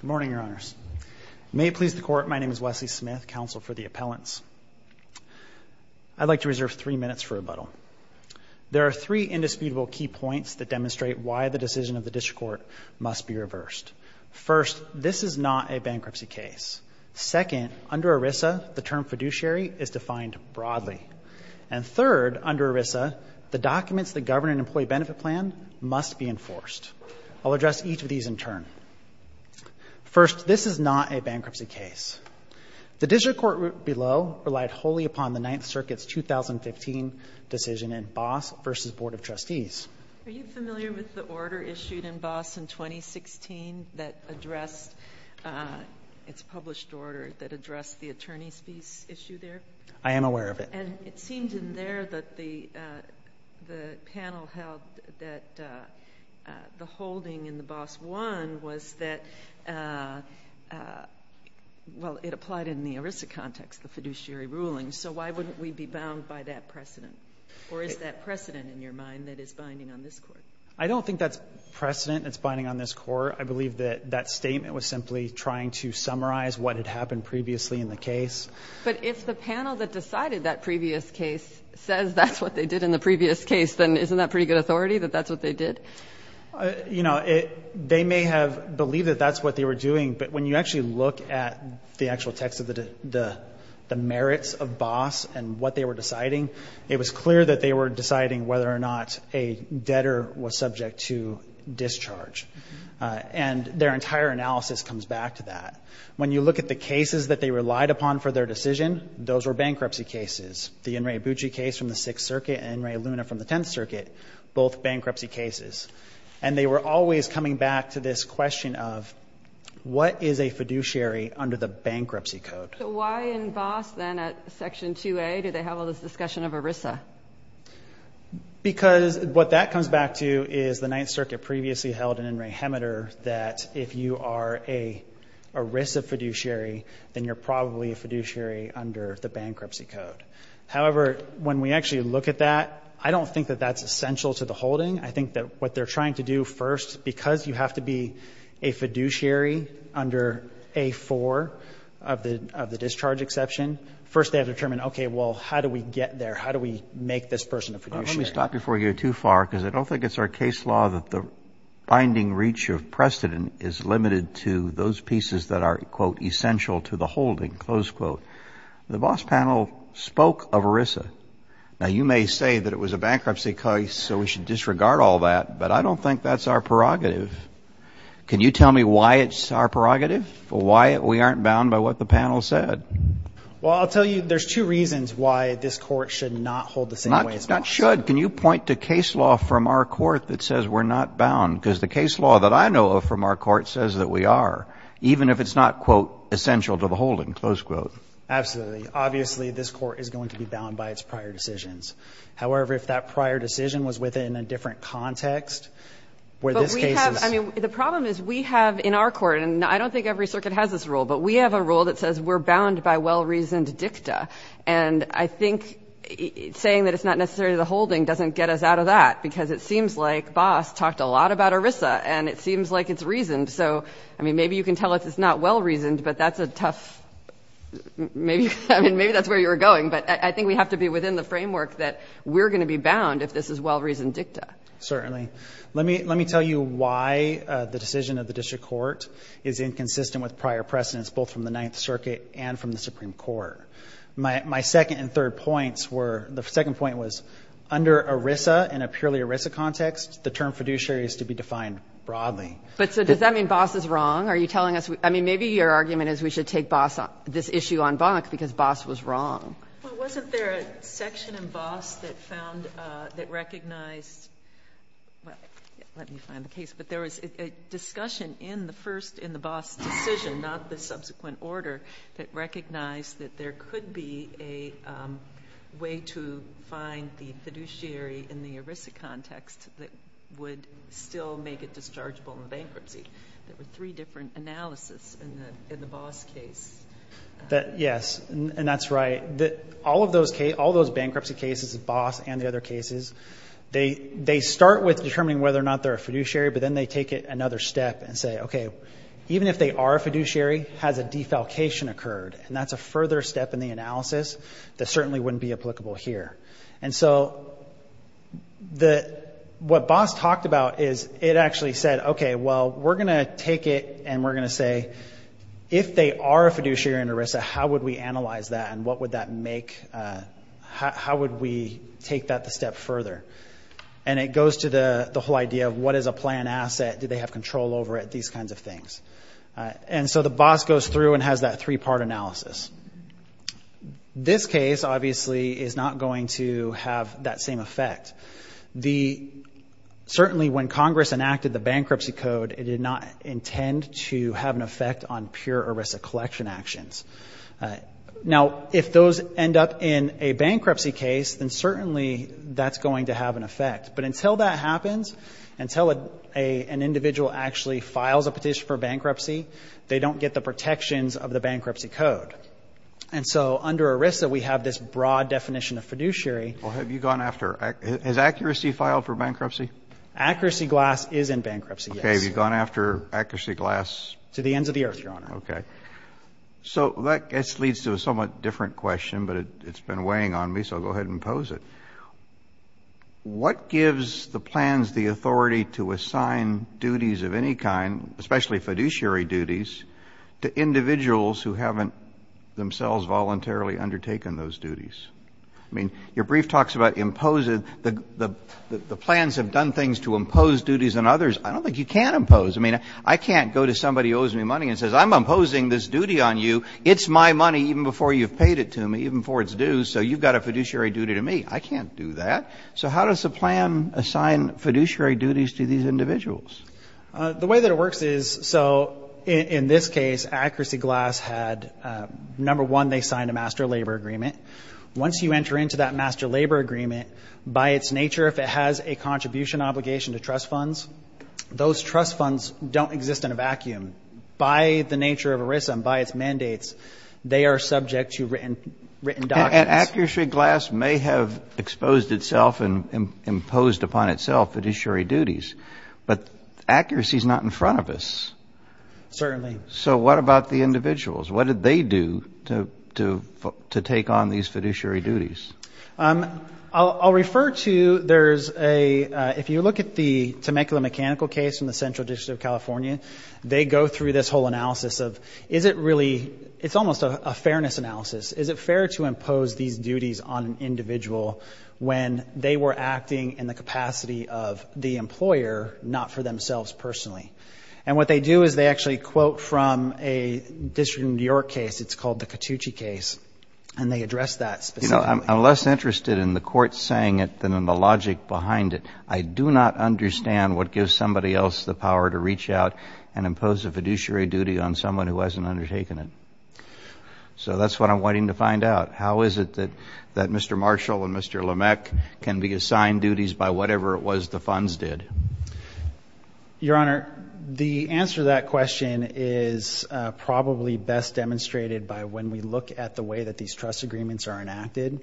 Good morning, Your Honors. May it please the Court, my name is Wesley Smith, Counsel for the Appellants. I'd like to reserve three minutes for rebuttal. There are three indisputable key points that demonstrate why the decision of the District Court must be reversed. First, this is not a bankruptcy case. Second, under ERISA, the term fiduciary is defined broadly. And third, under ERISA, the documents that govern an employee benefit plan must be enforced. I'll address each of these in turn. First, this is not a bankruptcy case. The District Court below relied wholly upon the Ninth Circuit's 2015 decision in Boss v. Board of Trustees. Are you familiar with the order issued in Boss in 2016 that addressed, it's a published order that addressed the attorney's fees issue there? I am aware of it. And it seemed in there that the panel held that the holding in the Boss one was that, well, it applied in the ERISA context, the fiduciary ruling, so why wouldn't we be bound by that precedent? Or is that precedent in your mind that is binding on this Court? I don't think that's precedent that's binding on this Court. I believe that that statement was simply trying to summarize what had happened previously in the case. But if the panel that decided that previous case says that's what they did in the previous case, then isn't that pretty good authority that that's what they did? You know, they may have believed that that's what they were doing, but when you actually look at the actual text of the merits of Boss and what they were deciding, it was clear that they were deciding whether or not a debtor was subject to discharge. And their entire analysis comes back to that. When you look at the cases that they relied upon for their decision, those were bankruptcy cases. The In re Abucci case from the Sixth Circuit and In re Luna from the Tenth Circuit, both bankruptcy cases. And they were always coming back to this question of what is a fiduciary under the bankruptcy code? So why in Boss then at Section 2A did they have all this discussion of ERISA? Because what that comes back to is the Ninth Circuit previously held in In re Hemeter that if you are a ERISA fiduciary, then you're probably a fiduciary under the bankruptcy code. However, when we actually look at that, I don't think that that's essential to the holding. I think that what they're trying to do first, because you have to be a fiduciary under A4 of the discharge exception, first they have to determine, okay, well, how do we get there? How do we make this person a fiduciary? Let me stop before you go too far, because I don't think it's our case law that the binding reach of precedent is limited to those pieces that are, quote, essential to the holding, close quote. The Boss panel spoke of ERISA. Now, you may say that it was a bankruptcy case, so we should disregard all that, but I don't think that's our prerogative. Can you tell me why it's our prerogative? Why we aren't bound by what the panel said? Well, I'll tell you there's two reasons why this court should not hold the same way as Boss. We not should. Can you point to case law from our court that says we're not bound? Because the case law that I know of from our court says that we are, even if it's not, quote, essential to the holding, close quote. Absolutely. Obviously, this court is going to be bound by its prior decisions. However, if that prior decision was within a different context, where this case is But we have, I mean, the problem is we have in our court, and I don't think every circuit has this rule, but we have a rule that says we're bound by well-reasoned dicta. And I think saying that it's not necessarily the holding doesn't get us out of that, because it seems like Boss talked a lot about ERISA, and it seems like it's reasoned. So, I mean, maybe you can tell us it's not well-reasoned, but that's a tough, maybe, I mean, maybe that's where you were going. But I think we have to be within the framework that we're going to be bound if this is well-reasoned dicta. Certainly. Let me tell you why the decision of the district court is inconsistent with prior precedence, both from the Ninth Circuit and from the Supreme Court. My second and third points were, the second point was, under ERISA, in a purely ERISA context, the term fiduciary is to be defined broadly. But so does that mean Boss is wrong? Are you telling us, I mean, maybe your argument is we should take Boss, this issue on Bonk, because Boss was wrong. Well, wasn't there a section in Boss that found, that recognized, well, let me find the case. But there was a discussion in the first, in the Boss decision, not the subsequent order, that recognized that there could be a way to find the fiduciary in the ERISA context that would still make it dischargeable in bankruptcy. There were three different analysis in the Boss case. Yes, and that's right. All of those bankruptcy cases, Boss and the other cases, they start with determining whether or not they're a fiduciary. But then they take it another step and say, okay, even if they are a fiduciary, has a defalcation occurred? And that's a further step in the analysis that certainly wouldn't be applicable here. And so what Boss talked about is, it actually said, okay, well, we're going to take it and we're going to say, if they are a fiduciary in ERISA, how would we analyze that and what would that make, how would we take that the step further? And it goes to the whole idea of what is a plan asset? Do they have control over it? These kinds of things. And so the Boss goes through and has that three-part analysis. This case, obviously, is not going to have that same effect. Certainly, when Congress enacted the bankruptcy code, it did not intend to have an effect on pure ERISA collection actions. Now, if those end up in a bankruptcy case, then certainly that's going to have an effect. But until that happens, until an individual actually files a petition for bankruptcy, they don't get the protections of the bankruptcy code. And so under ERISA, we have this broad definition of fiduciary. Well, have you gone after, has accuracy filed for bankruptcy? Accuracy glass is in bankruptcy, yes. Okay, have you gone after accuracy glass? To the ends of the earth, Your Honor. Okay. So that leads to a somewhat different question, but it's been weighing on me, so I'll go ahead and pose it. What gives the plans the authority to assign duties of any kind, especially fiduciary duties, to individuals who haven't themselves voluntarily undertaken those duties? I mean, your brief talks about imposing. The plans have done things to impose duties on others. I don't think you can impose. I mean, I can't go to somebody who owes me money and says, I'm imposing this duty on you. It's my money even before you've paid it to me, even before it's due, so you've got a fiduciary duty to me. I can't do that. So how does the plan assign fiduciary duties to these individuals? The way that it works is, so in this case, accuracy glass had, number one, they signed a master labor agreement. Once you enter into that master labor agreement, by its nature, if it has a contribution obligation to trust funds, those trust funds don't exist in a vacuum. By the nature of ERISA and by its mandates, they are subject to written doctrines. And accuracy glass may have exposed itself and imposed upon itself fiduciary duties, but accuracy is not in front of us. Certainly. So what about the individuals? What did they do to take on these fiduciary duties? I'll refer to, there's a, if you look at the Temecula Mechanical case in the Central District of California, they go through this whole analysis of, is it really, it's almost a fairness analysis. Is it fair to impose these duties on an individual when they were acting in the capacity of the employer, not for themselves personally? And what they do is they actually quote from a district in New York case, it's called the Cattucci case, and they address that specifically. I'm less interested in the court saying it than in the logic behind it. I do not understand what gives somebody else the power to reach out and impose a fiduciary duty on someone who hasn't undertaken it. So that's what I'm waiting to find out. How is it that Mr. Marshall and Mr. Lameck can be assigned duties by whatever it was the funds did? Your Honor, the answer to that question is probably best demonstrated by when we look at the way that these trust agreements are enacted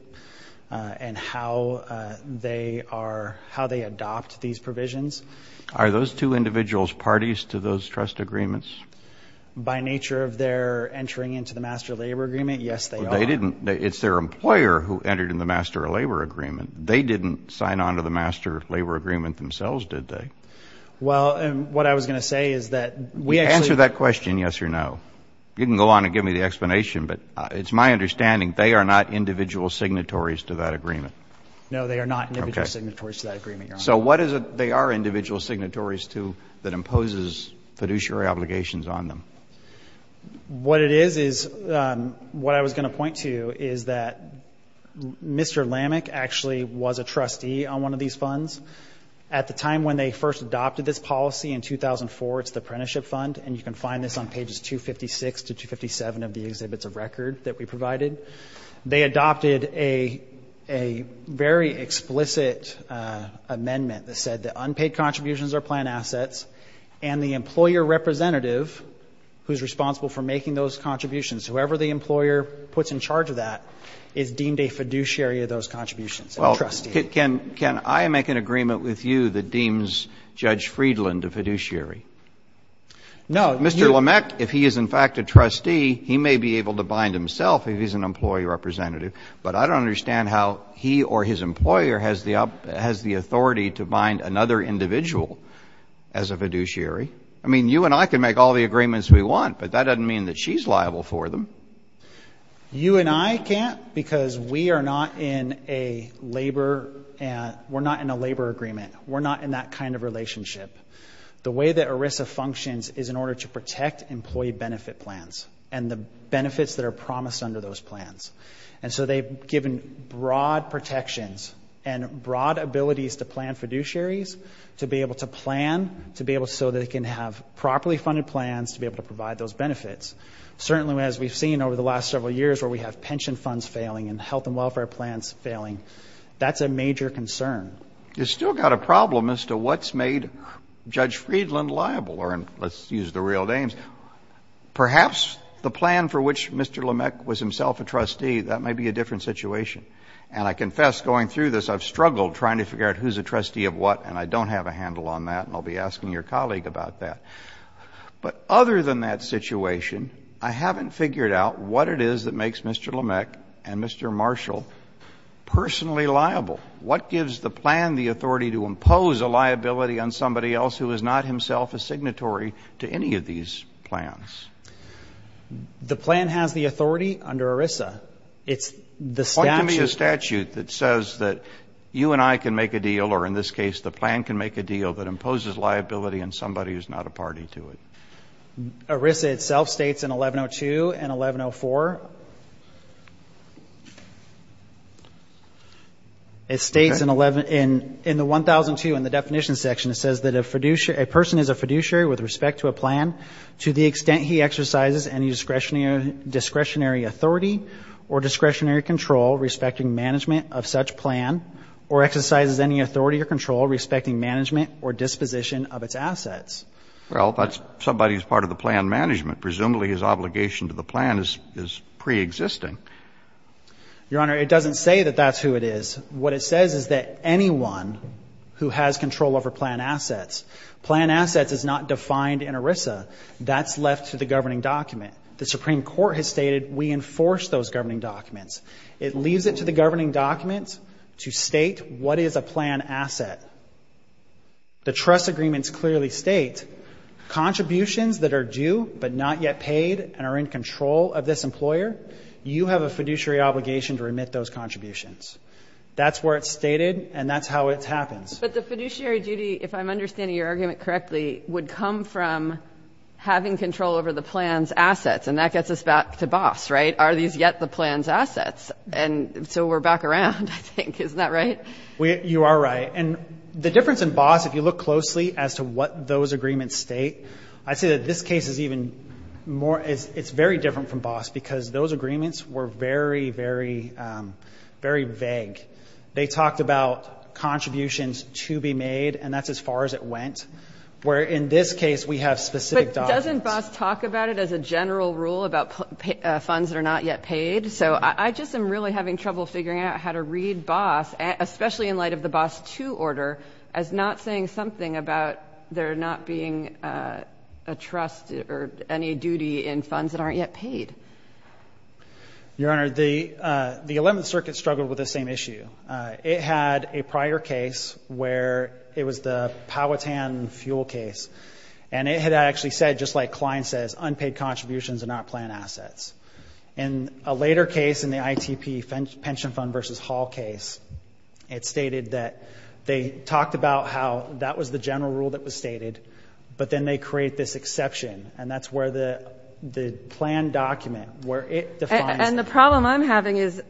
and how they are, how they adopt these provisions. Are those two individuals parties to those trust agreements? By nature of their entering into the master labor agreement, yes, they are. They didn't, it's their employer who entered in the master labor agreement. They didn't sign on to the master labor agreement themselves, did they? Well, and what I was going to say is that we actually... Answer that question yes or no. You can go on and give me the explanation, but it's my understanding they are not individual signatories to that agreement. No, they are not individual signatories to that agreement, Your Honor. So what is it they are individual signatories to that imposes fiduciary obligations on them? What it is is, what I was going to point to is that Mr. Lameck actually was a trustee on one of these funds. At the time when they first adopted this policy in 2004, it's the apprenticeship fund, and you can find this on pages 256 to 257 of the exhibits of record that we provided. They adopted a very explicit amendment that said that unpaid contributions are planned assets, and the employer representative who is responsible for making those contributions, whoever the employer puts in charge of that, is deemed a fiduciary of those contributions, a trustee. Well, can I make an agreement with you that deems Judge Friedland a fiduciary? No. Mr. Lameck, if he is in fact a trustee, he may be able to bind himself if he's an employee representative, but I don't understand how he or his employer has the authority to bind another individual as a fiduciary. I mean, you and I can make all the agreements we want, but that doesn't mean that she's liable for them. You and I can't because we are not in a labor agreement. We're not in that kind of relationship. The way that ERISA functions is in order to protect employee benefit plans and the benefits that are promised under those plans. And so they've given broad protections and broad abilities to plan fiduciaries to be able to plan, to be able so that they can have properly funded plans to be able to provide those benefits. Certainly, as we've seen over the last several years where we have pension funds failing and health and welfare plans failing, that's a major concern. You've still got a problem as to what's made Judge Friedland liable, or let's use the real names. Perhaps the plan for which Mr. Lameck was himself a trustee, that may be a different situation. And I confess going through this, I've struggled trying to figure out who's a trustee of what, and I don't have a handle on that, and I'll be asking your colleague about that. But other than that situation, I haven't figured out what it is that makes Mr. Lameck and Mr. Marshall personally liable. What gives the plan the authority to impose a liability on somebody else who is not himself a signatory to any of these plans? The plan has the authority under ERISA. It's the statute. Point to me a statute that says that you and I can make a deal, or in this case, the plan can make a deal that imposes liability on somebody who's not a party to it. ERISA itself states in 1102 and 1104, it states in the 1002 in the definition section, it says that a person is a fiduciary with respect to a plan to the extent he exercises any discretionary authority or discretionary control respecting management of such plan, or exercises any authority or control respecting management or disposition of its assets. Well, that's somebody who's part of the plan management. Presumably his obligation to the plan is preexisting. Your Honor, it doesn't say that that's who it is. What it says is that anyone who has control over plan assets, plan assets is not defined in ERISA. That's left to the governing document. The Supreme Court has stated we enforce those governing documents. It leaves it to the governing documents to state what is a plan asset. The trust agreements clearly state contributions that are due but not yet paid and are in control of this employer, you have a fiduciary obligation to remit those contributions. That's where it's stated, and that's how it happens. But the fiduciary duty, if I'm understanding your argument correctly, would come from having control over the plan's assets, and that gets us back to BOSS, right? Are these yet the plan's assets? And so we're back around, I think. Isn't that right? You are right. And the difference in BOSS, if you look closely as to what those agreements state, I'd say that this case is even more, it's very different from BOSS because those agreements were very, very vague. They talked about contributions to be made, and that's as far as it went, where in this case we have specific documents. But doesn't BOSS talk about it as a general rule about funds that are not yet paid? So I just am really having trouble figuring out how to read BOSS, especially in light of the BOSS II order, as not saying something about there not being a trust or any duty in funds that aren't yet paid. Your Honor, the Eleventh Circuit struggled with this same issue. It had a prior case where it was the Powhatan fuel case, and it had actually said, just like Klein says, unpaid contributions are not plan assets. And a later case in the ITP Pension Fund v. Hall case, it stated that they talked about how that was the general rule that was stated, but then they create this exception, and that's where the plan document, where it defines that. And the problem I'm having is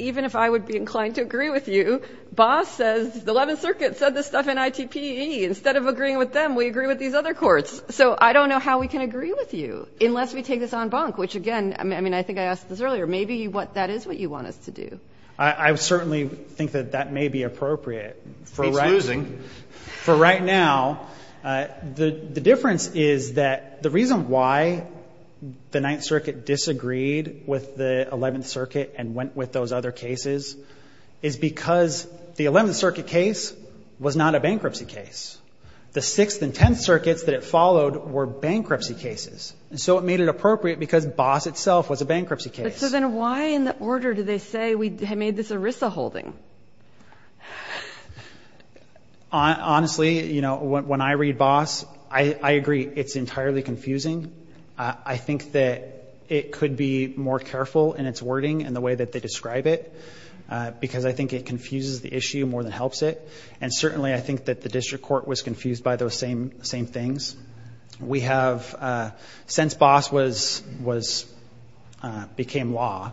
even if I would be inclined to agree with you, BOSS says, the Eleventh Circuit said this stuff in ITPE. Instead of agreeing with them, we agree with these other courts. So I don't know how we can agree with you unless we take this on bonk, which, again, I mean, I think I asked this earlier. Maybe that is what you want us to do. I certainly think that that may be appropriate. It's losing. For right now, the difference is that the reason why the Ninth Circuit disagreed with the Eleventh Circuit and went with those other cases is because the Eleventh Circuit case was not a bankruptcy case. The Sixth and Tenth Circuits that it followed were bankruptcy cases. And so it made it appropriate because BOSS itself was a bankruptcy case. So then why in the order do they say we made this ERISA holding? Honestly, you know, when I read BOSS, I agree it's entirely confusing. I think that it could be more careful in its wording and the way that they describe it because I think it confuses the issue more than helps it. And certainly I think that the district court was confused by those same things. We have, since BOSS became law,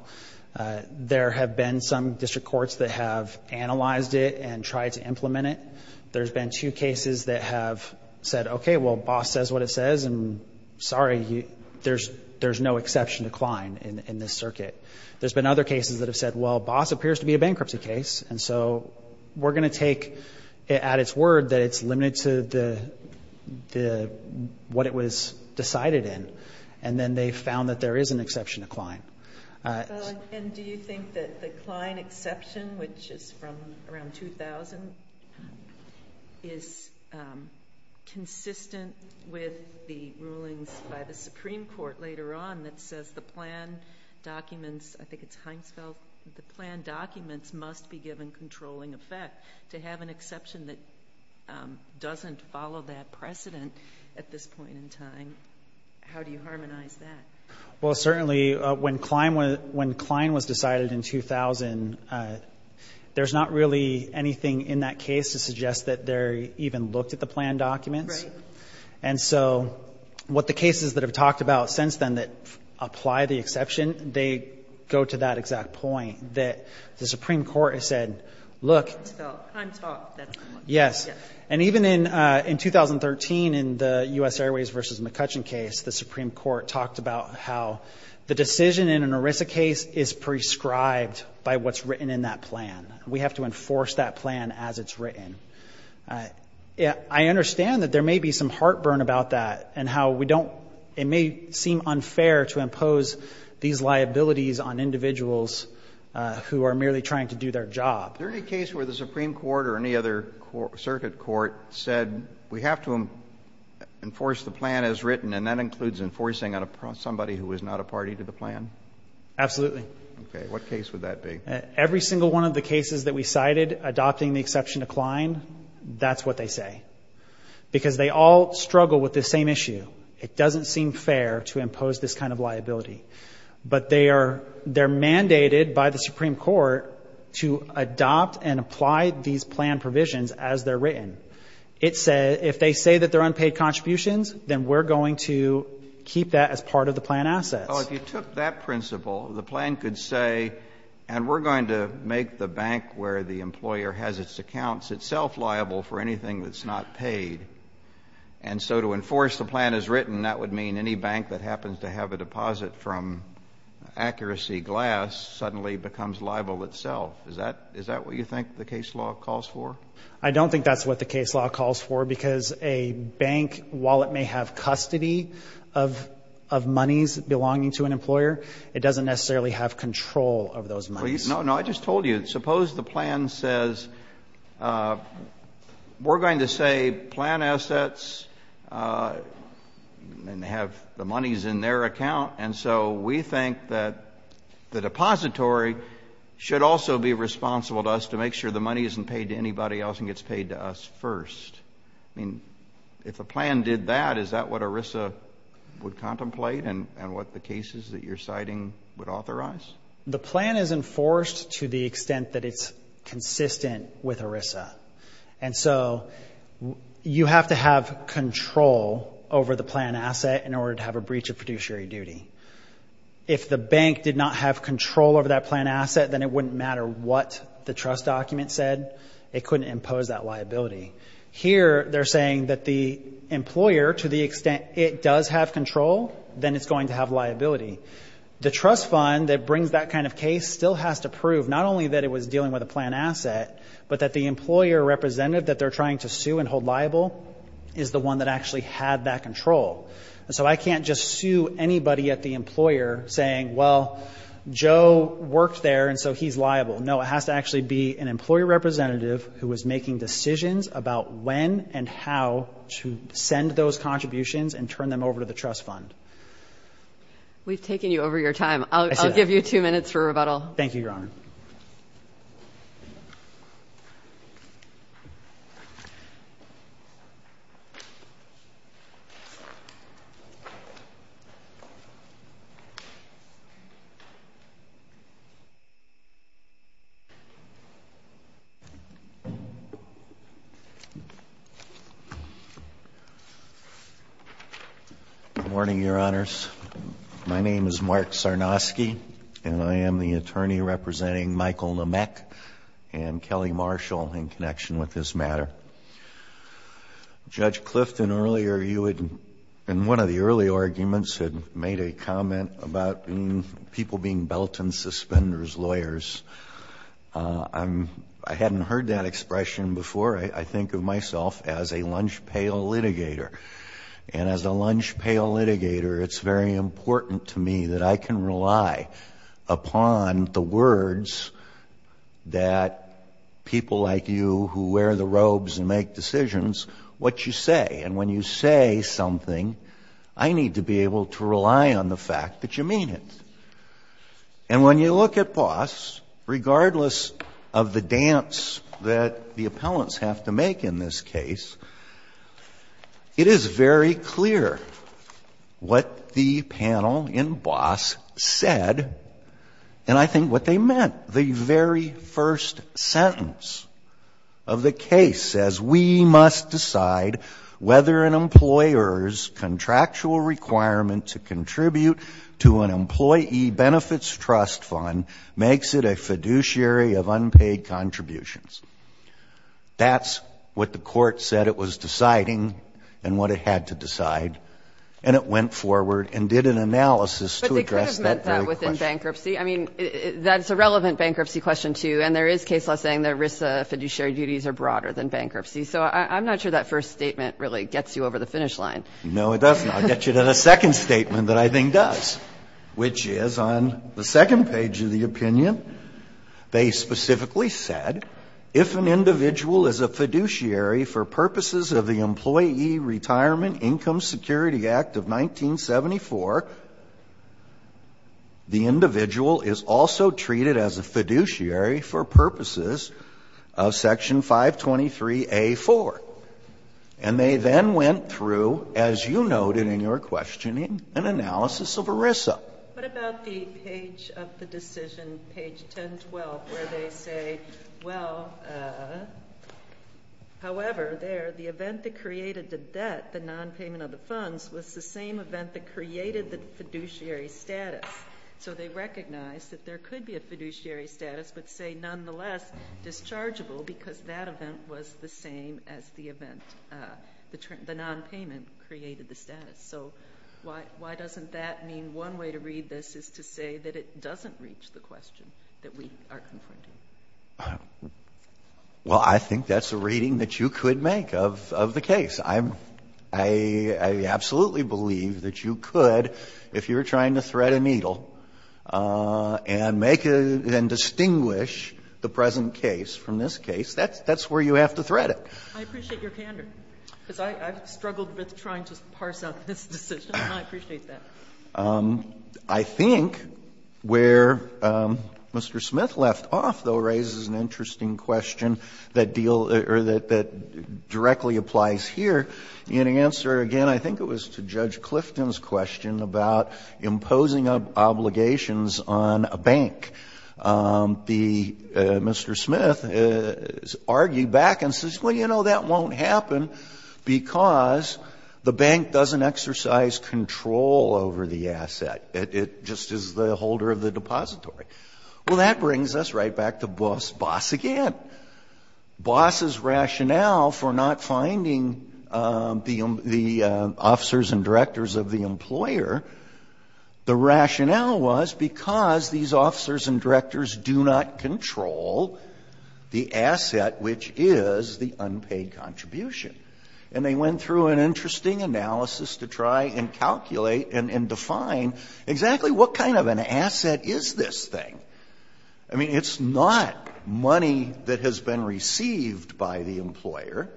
there have been some district courts that have analyzed it and tried to implement it. There's been two cases that have said, okay, well, BOSS says what it says, and sorry, there's no exception to Klein in this circuit. There's been other cases that have said, well, BOSS appears to be a bankruptcy case, and so we're going to take at its word that it's limited to what it was decided in. And then they found that there is an exception to Klein. And do you think that the Klein exception, which is from around 2000, is consistent with the rulings by the Supreme Court later on that says the plan documents, I think it's Heinsfeld, the plan documents must be given controlling effect. To have an exception that doesn't follow that precedent at this point in time, how do you harmonize that? Well, certainly when Klein was decided in 2000, there's not really anything in that case to suggest that they even looked at the plan documents. And so what the cases that have talked about since then that apply the exception, they go to that exact point that the Supreme Court has said, look. And even in 2013 in the U.S. Airways v. McCutcheon case, the Supreme Court talked about how the decision in an ERISA case is prescribed by what's written in that plan. We have to enforce that plan as it's written. I understand that there may be some heartburn about that and how we don't, it may seem unfair to impose these liabilities on individuals who are merely trying to do their job. Is there any case where the Supreme Court or any other circuit court said we have to enforce the plan as written and that includes enforcing on somebody who is not a party to the plan? Absolutely. Okay, what case would that be? Every single one of the cases that we cited adopting the exception to Klein, that's what they say. Because they all struggle with the same issue. It doesn't seem fair to impose this kind of liability. But they are mandated by the Supreme Court to adopt and apply these plan provisions as they're written. If they say that they're unpaid contributions, then we're going to keep that as part of the plan assets. Well, if you took that principle, the plan could say, and we're going to make the bank where the employer has its accounts itself liable for anything that's not paid. And so to enforce the plan as written, that would mean any bank that happens to have a deposit from Accuracy Glass suddenly becomes liable itself. Is that what you think the case law calls for? I don't think that's what the case law calls for because a bank, while it may have custody of monies belonging to an employer, it doesn't necessarily have control of those monies. No, I just told you. Suppose the plan says we're going to say plan assets and have the monies in their account. And so we think that the depository should also be responsible to us to make sure the money isn't paid to anybody else and gets paid to us first. I mean, if a plan did that, is that what ERISA would contemplate and what the cases that you're citing would authorize? The plan is enforced to the extent that it's consistent with ERISA. And so you have to have control over the plan asset in order to have a breach of fiduciary duty. If the bank did not have control over that plan asset, then it wouldn't matter what the trust document said. It couldn't impose that liability. Here, they're saying that the employer, to the extent it does have control, then it's going to have liability. The trust fund that brings that kind of case still has to prove not only that it was dealing with a plan asset, but that the employer representative that they're trying to sue and hold liable is the one that actually had that control. And so I can't just sue anybody at the employer saying, well, Joe worked there and so he's liable. No, it has to actually be an employer representative who is making decisions about when and how to send those contributions and turn them over to the trust fund. We've taken you over your time. I'll give you two minutes for rebuttal. Thank you, Your Honor. Good morning, Your Honors. My name is Mark Sarnosky, and I am the attorney representing Michael Namek and Kelly Marshall in connection with this matter. Judge Clifton, earlier you had, in one of the early arguments, had made a comment about people being belt and suspenders lawyers. I hadn't heard that expression before. I think of myself as a lunch pail litigator. And as a lunch pail litigator, it's very important to me that I can rely upon the words that people like you who wear the robes and make decisions, what you say. And when you say something, I need to be able to rely on the fact that you mean it. And when you look at Boss, regardless of the dance that the appellants have to make in this case, it is very clear what the panel in Boss said, and I think what they meant. The very first sentence of the case says, we must decide whether an employer's contractual requirement to contribute to an employee benefits trust fund makes it a fiduciary of unpaid contributions. That's what the court said it was deciding and what it had to decide, and it went forward and did an analysis to address that very question. But they could have meant that within bankruptcy. I mean, that's a relevant bankruptcy question, too. And there is case law saying the risks of fiduciary duties are broader than bankruptcy. So I'm not sure that first statement really gets you over the finish line. No, it does not. It gets you to the second statement that I think does, which is on the second page of the opinion. They specifically said, if an individual is a fiduciary for purposes of the Employee Retirement Income Security Act of 1974, the individual is also treated as a fiduciary for purposes of Section 523A4. And they then went through, as you noted in your questioning, an analysis of ERISA. What about the page of the decision, page 1012, where they say, well, however, the event that created the debt, the nonpayment of the funds, was the same event that created the fiduciary status. So they recognized that there could be a fiduciary status, but say, nonetheless, dischargeable because that event was the same as the event, the nonpayment created the status. So why doesn't that mean one way to read this is to say that it doesn't reach the question that we are confronting? Well, I think that's a reading that you could make of the case. I absolutely believe that you could, if you were trying to thread a needle and make and distinguish the present case from this case. That's where you have to thread it. I appreciate your candor, because I've struggled with trying to parse out this decision, and I appreciate that. I think where Mr. Smith left off, though, raises an interesting question that deal or that directly applies here. In answer, again, I think it was to Judge Clifton's question about imposing obligations on a bank. Mr. Smith has argued back and says, well, you know, that won't happen, because the bank doesn't exercise control over the asset. It just is the holder of the depository. Well, that brings us right back to BOSS again. BOSS's rationale for not finding the officers and directors of the employer, the rationale was because these officers and directors do not control the asset, which is the unpaid contribution. And they went through an interesting analysis to try and calculate and define exactly what kind of an asset is this thing. I mean, it's not money that has been received by the employer.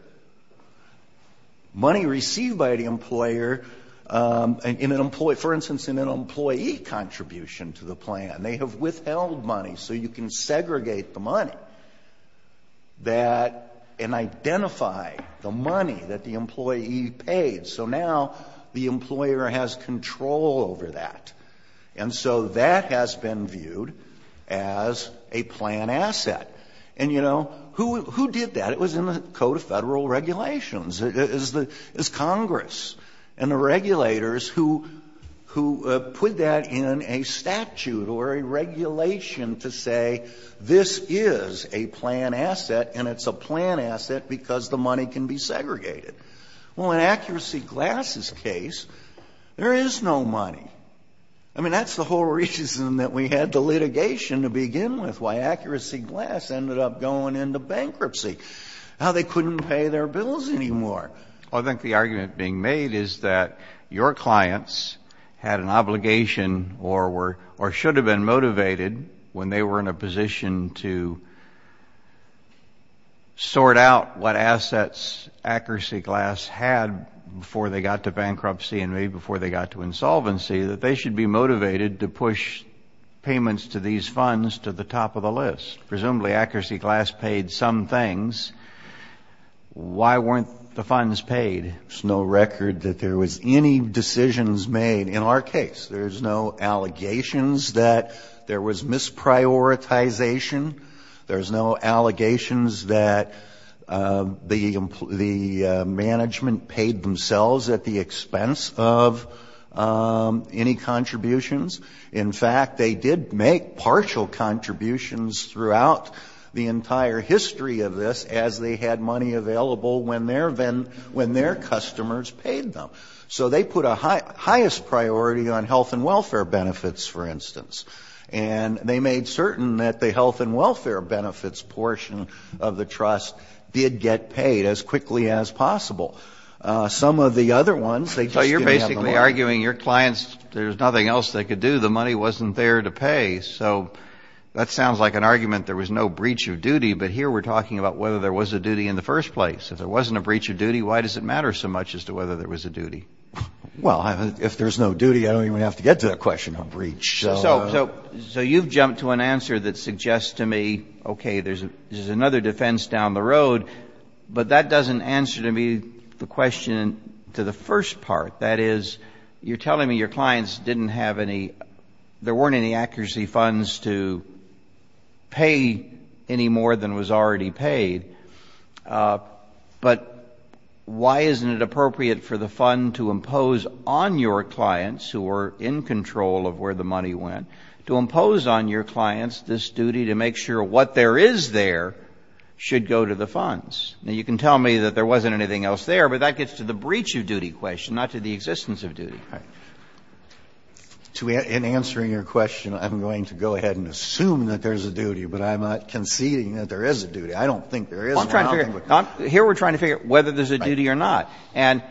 Money received by the employer in an employee, for instance, in an employee contribution to the plan. And they have withheld money so you can segregate the money that and identify the money that the employee paid. So now the employer has control over that. And so that has been viewed as a plan asset. And, you know, who did that? It was in the Code of Federal Regulations. It's Congress and the regulators who put that in a statute or a regulation to say this is a plan asset and it's a plan asset because the money can be segregated. Well, in Accuracy Glass's case, there is no money. I mean, that's the whole reason that we had the litigation to begin with, why Accuracy Glass ended up going into bankruptcy. Now they couldn't pay their bills anymore. Well, I think the argument being made is that your clients had an obligation or were or should have been motivated when they were in a position to sort out what assets Accuracy Glass had before they got to bankruptcy and maybe before they got to insolvency that they should be motivated to push payments to these funds to the top of the list. Presumably Accuracy Glass paid some things. Why weren't the funds paid? There's no record that there was any decisions made. In our case, there's no allegations that there was misprioritization. There's no allegations that the management paid themselves at the expense of any contributions. In fact, they did make partial contributions throughout the entire history of this as they had money available when their customers paid them. So they put a highest priority on health and welfare benefits, for instance. And they made certain that the health and welfare benefits portion of the trust did get paid as quickly as possible. Some of the other ones, they just didn't have the money. You're basically arguing your clients, there's nothing else they could do. The money wasn't there to pay. So that sounds like an argument there was no breach of duty. But here we're talking about whether there was a duty in the first place. If there wasn't a breach of duty, why does it matter so much as to whether there was a duty? Well, if there's no duty, I don't even have to get to that question on breach. So you've jumped to an answer that suggests to me, okay, there's another defense down the road. But that doesn't answer to me the question to the first part. That is, you're telling me your clients didn't have any, there weren't any accuracy funds to pay any more than was already paid. But why isn't it appropriate for the fund to impose on your clients, who were in control of where the money went, to impose on your clients this duty to make sure what there is there should go to the funds? Now, you can tell me that there wasn't anything else there, but that gets to the existence of duty. In answering your question, I'm going to go ahead and assume that there's a duty, but I'm not conceding that there is a duty. I don't think there is. I don't think there is. Here we're trying to figure out whether there's a duty or not. And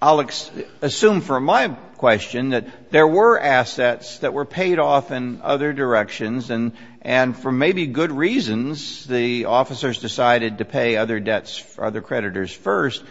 I'll assume from my question that there were assets that were paid off in other directions, and for maybe good reasons, the officers decided to pay other debts for other creditors first.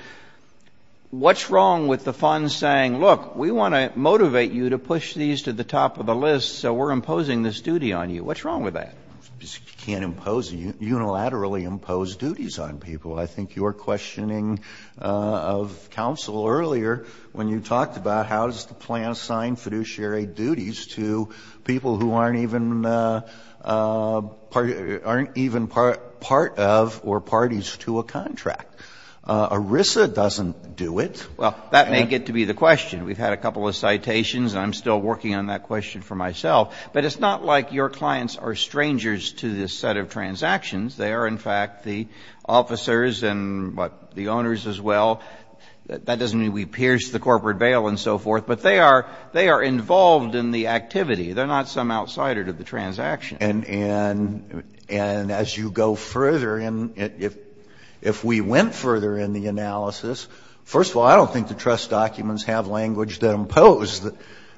What's wrong with the fund saying, look, we want to motivate you to push these to the top of the list, so we're imposing this duty on you? What's wrong with that? You can't unilaterally impose duties on people. I think your questioning of counsel earlier when you talked about how is the plan assigned fiduciary duties to people who aren't even part of or parties to a contract. ERISA doesn't do it. Well, that may get to be the question. We've had a couple of citations, and I'm still working on that question for myself. But it's not like your clients are strangers to this set of transactions. They are, in fact, the officers and the owners as well. That doesn't mean we pierce the corporate veil and so forth, but they are involved in the activity. They're not some outsider to the transaction. And as you go further in, if we went further in the analysis, first of all, I don't think the trust documents have language that impose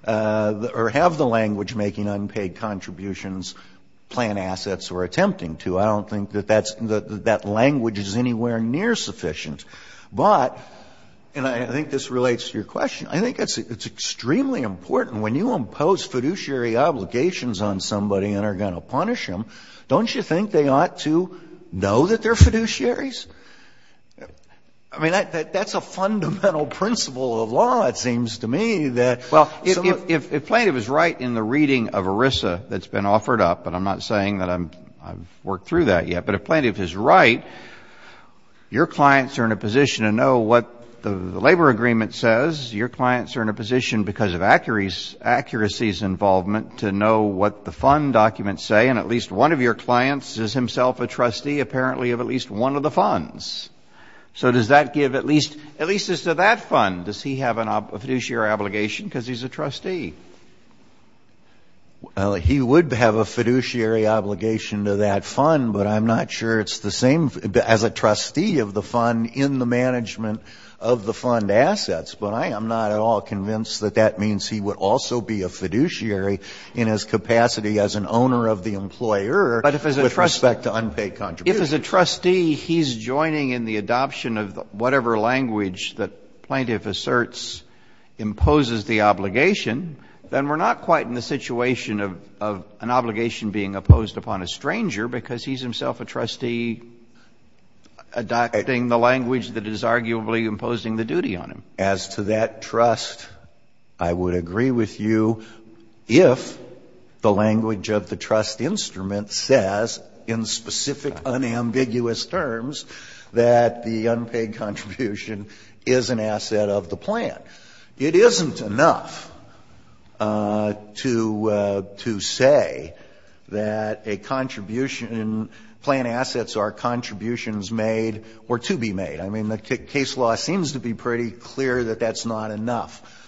or have the language making unpaid contributions, plan assets or attempting to. I don't think that that language is anywhere near sufficient. But, and I think this relates to your question, I think it's extremely important when you impose fiduciary obligations on somebody and are going to punish them, don't you think they ought to know that they're fiduciaries? I mean, that's a fundamental principle of law, it seems to me. Well, if plaintiff is right in the reading of ERISA that's been offered up, and I'm not saying that I've worked through that yet, but if plaintiff is right, your clients are in a position to know what the labor agreement says. Your clients are in a position, because of accuracies involvement, to know what the fund documents say, and at least one of your clients is himself a trustee apparently of at least one of the funds. So does that give at least, at least as to that fund, does he have a fiduciary obligation because he's a trustee? Well, he would have a fiduciary obligation to that fund, but I'm not sure it's the same as a trustee of the fund in the management of the fund assets. But I am not at all convinced that that means he would also be a fiduciary in his capacity as an owner of the employer with respect to unpaid contributions. But if as a trustee he's joining in the adoption of whatever language that plaintiff asserts imposes the obligation, then we're not quite in the situation of an obligation being opposed upon a stranger, because he's himself a trustee adopting the language that is arguably imposing the duty on him. As to that trust, I would agree with you if the language of the trust instrument says in specific unambiguous terms that the unpaid contribution is an asset of the plan. It isn't enough to say that a contribution, plan assets are contributions made or to be made. I mean, the case law seems to be pretty clear that that's not enough.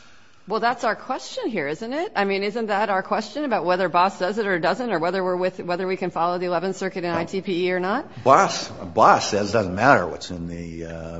Well, that's our question here, isn't it? I mean, isn't that our question about whether BOSS does it or doesn't or whether we're with or whether we can follow the Eleventh Circuit and ITPE or not? BOSS says it doesn't matter what's in the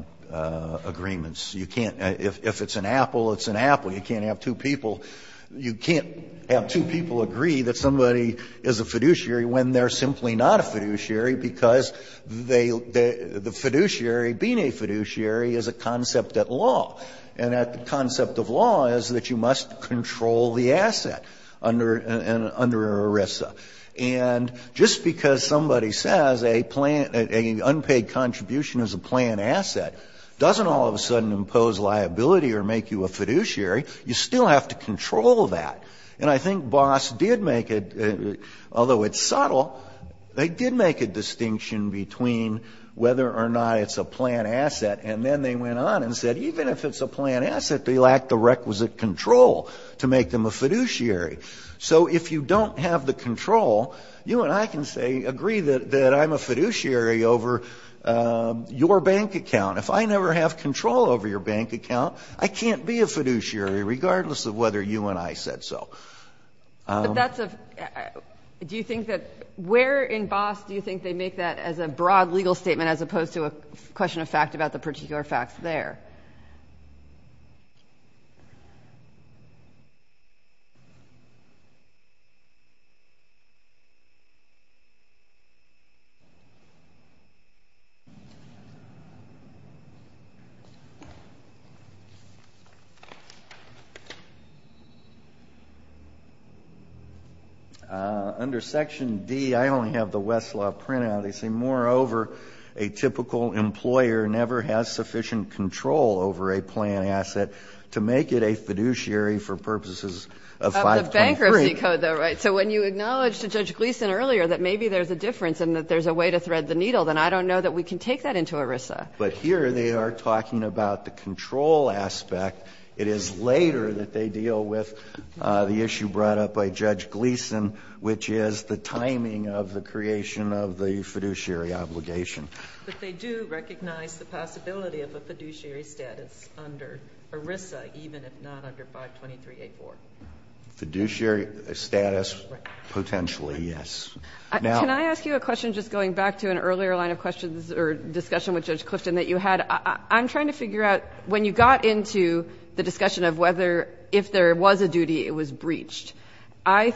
agreements. You can't – if it's an apple, it's an apple. You can't have two people – you can't have two people agree that somebody is a fiduciary when they're simply not a fiduciary, because the fiduciary, being a fiduciary, is a concept at law. And that concept of law is that you must control the asset under an ERISA. And just because somebody says a unpaid contribution is a plan asset doesn't all of a sudden impose liability or make you a fiduciary. You still have to control that. And I think BOSS did make a – although it's subtle, they did make a distinction between whether or not it's a plan asset, and then they went on and said even if it's a plan asset, they lack the requisite control to make them a fiduciary. So if you don't have the control, you and I can say – agree that I'm a fiduciary over your bank account. If I never have control over your bank account, I can't be a fiduciary regardless of whether you and I said so. But that's a – do you think that – where in BOSS do you think they make that as a broad legal statement as opposed to a question of fact about the particular facts there? Under Section D, I only have the Westlaw printout. They say moreover, a typical employer never has sufficient control over a plan asset to make it a fiduciary for purposes of 523. Of the bankruptcy code though, right? So when you acknowledge to Judge Gleeson earlier that maybe there's a difference and that there's a way to thread the needle, then I don't know that we can take that into ERISA. But here they are talking about the control aspect. It is later that they deal with the issue brought up by Judge Gleeson, which is the timing of the creation of the fiduciary obligation. But they do recognize the possibility of a fiduciary status under ERISA, even if not under 523.84. Fiduciary status, potentially, yes. Now – Can I ask you a question just going back to an earlier line of questions or discussion with Judge Clifton that you had? I'm trying to figure out, when you got into the discussion of whether, if there was a duty, it was breached, I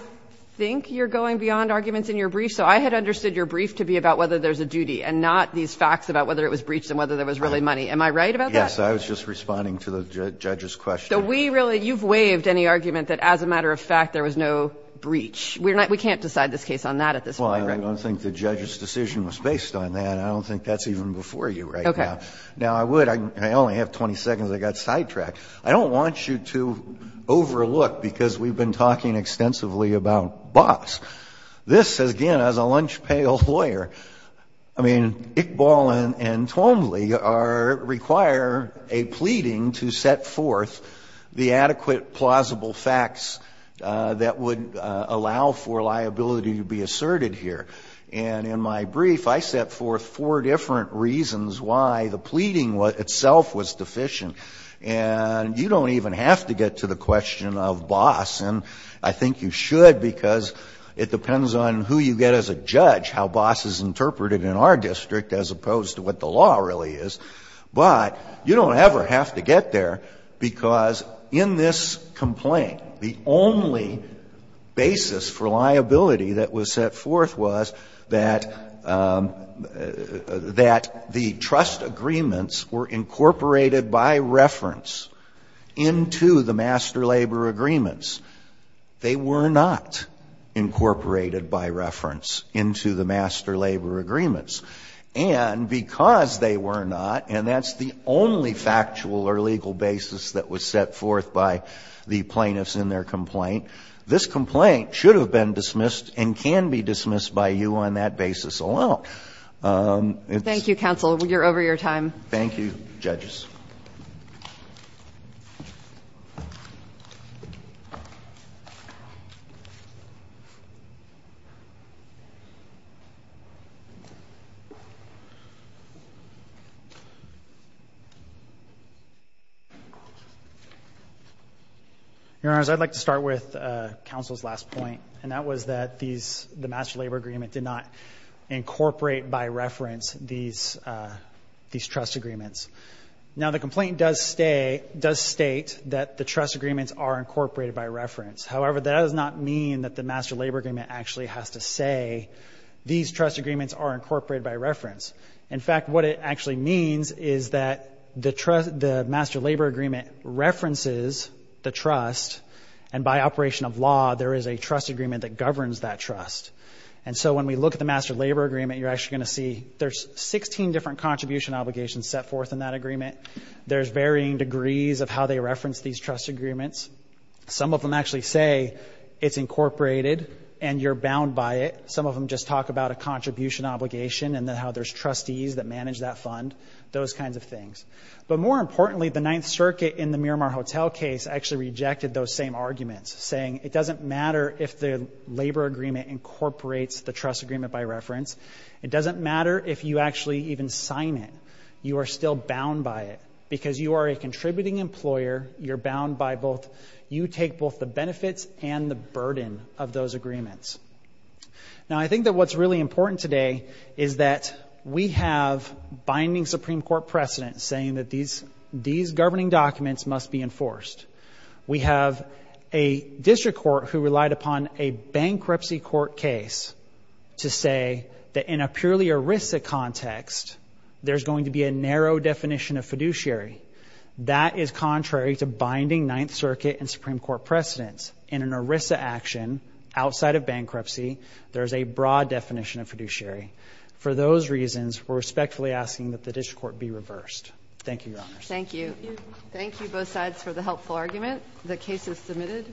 think you're going beyond arguments in your brief. So I had understood your brief to be about whether there's a duty and not these facts about whether it was breached and whether there was really money. Am I right about that? Yes. I was just responding to the judge's question. So we really – you've waived any argument that as a matter of fact there was no breach. We can't decide this case on that at this point, right? Well, I don't think the judge's decision was based on that. I don't think that's even before you right now. Now, I would – I only have 20 seconds. I got sidetracked. I don't want you to overlook, because we've been talking extensively about Boss, this, again, as a lunch-pail lawyer, I mean, Iqbal and Twombly require a pleading to set forth the adequate plausible facts that would allow for liability to be asserted here. And in my brief, I set forth four different reasons why the pleading itself was deficient. And you don't even have to get to the question of Boss. And I think you should, because it depends on who you get as a judge, how Boss is interpreted in our district, as opposed to what the law really is. But you don't ever have to get there, because in this complaint, the only basis for liability that was set forth was that the trust agreements were incorporated by reference into the master labor agreements. They were not incorporated by reference into the master labor agreements. And because they were not, and that's the only factual or legal basis that was set forth by the plaintiffs in their complaint, this complaint should have been dismissed and can be dismissed by you on that basis alone. Thank you, counsel. You're over your time. Thank you, judges. Your Honors, I'd like to start with counsel's last point. And that was that these, the master labor agreement did not incorporate by reference these trust agreements. Now, the complaint does state that the trust agreements are incorporated by reference. However, that does not mean that the master labor agreement actually has to say, these trust agreements are incorporated by reference. In fact, what it actually means is that the master labor agreement references the trust, and by operation of law, there is a trust agreement that governs that trust. And so when we look at the master labor agreement, you're actually going to see there's 16 different contribution obligations set forth in that agreement. There's varying degrees of how they reference these trust agreements. Some of them actually say it's incorporated and you're bound by it. Some of them just talk about a contribution obligation and how there's trustees that manage that fund, those kinds of things. But more importantly, the Ninth Circuit in the Miramar Hotel case actually rejected those same arguments, saying it doesn't matter if the labor agreement incorporates the trust agreement by reference. It doesn't matter if you actually even sign it. You are still bound by it. Because you are a contributing employer, you're bound by both, you take both the benefits and the burden of those agreements. Now, I think that what's really important today is that we have binding Supreme Court precedent saying that these governing documents must be enforced. We have a district court who relied upon a bankruptcy court case to say that in a purely ERISA context, there's going to be a narrow definition of fiduciary. That is contrary to binding Ninth Circuit and Supreme Court precedents. In an ERISA action, outside of bankruptcy, there's a broad definition of fiduciary. For those reasons, we're respectfully asking that the district court be reversed. Thank you, Your Honors. Thank you. Thank you both sides for the helpful argument. The case is submitted.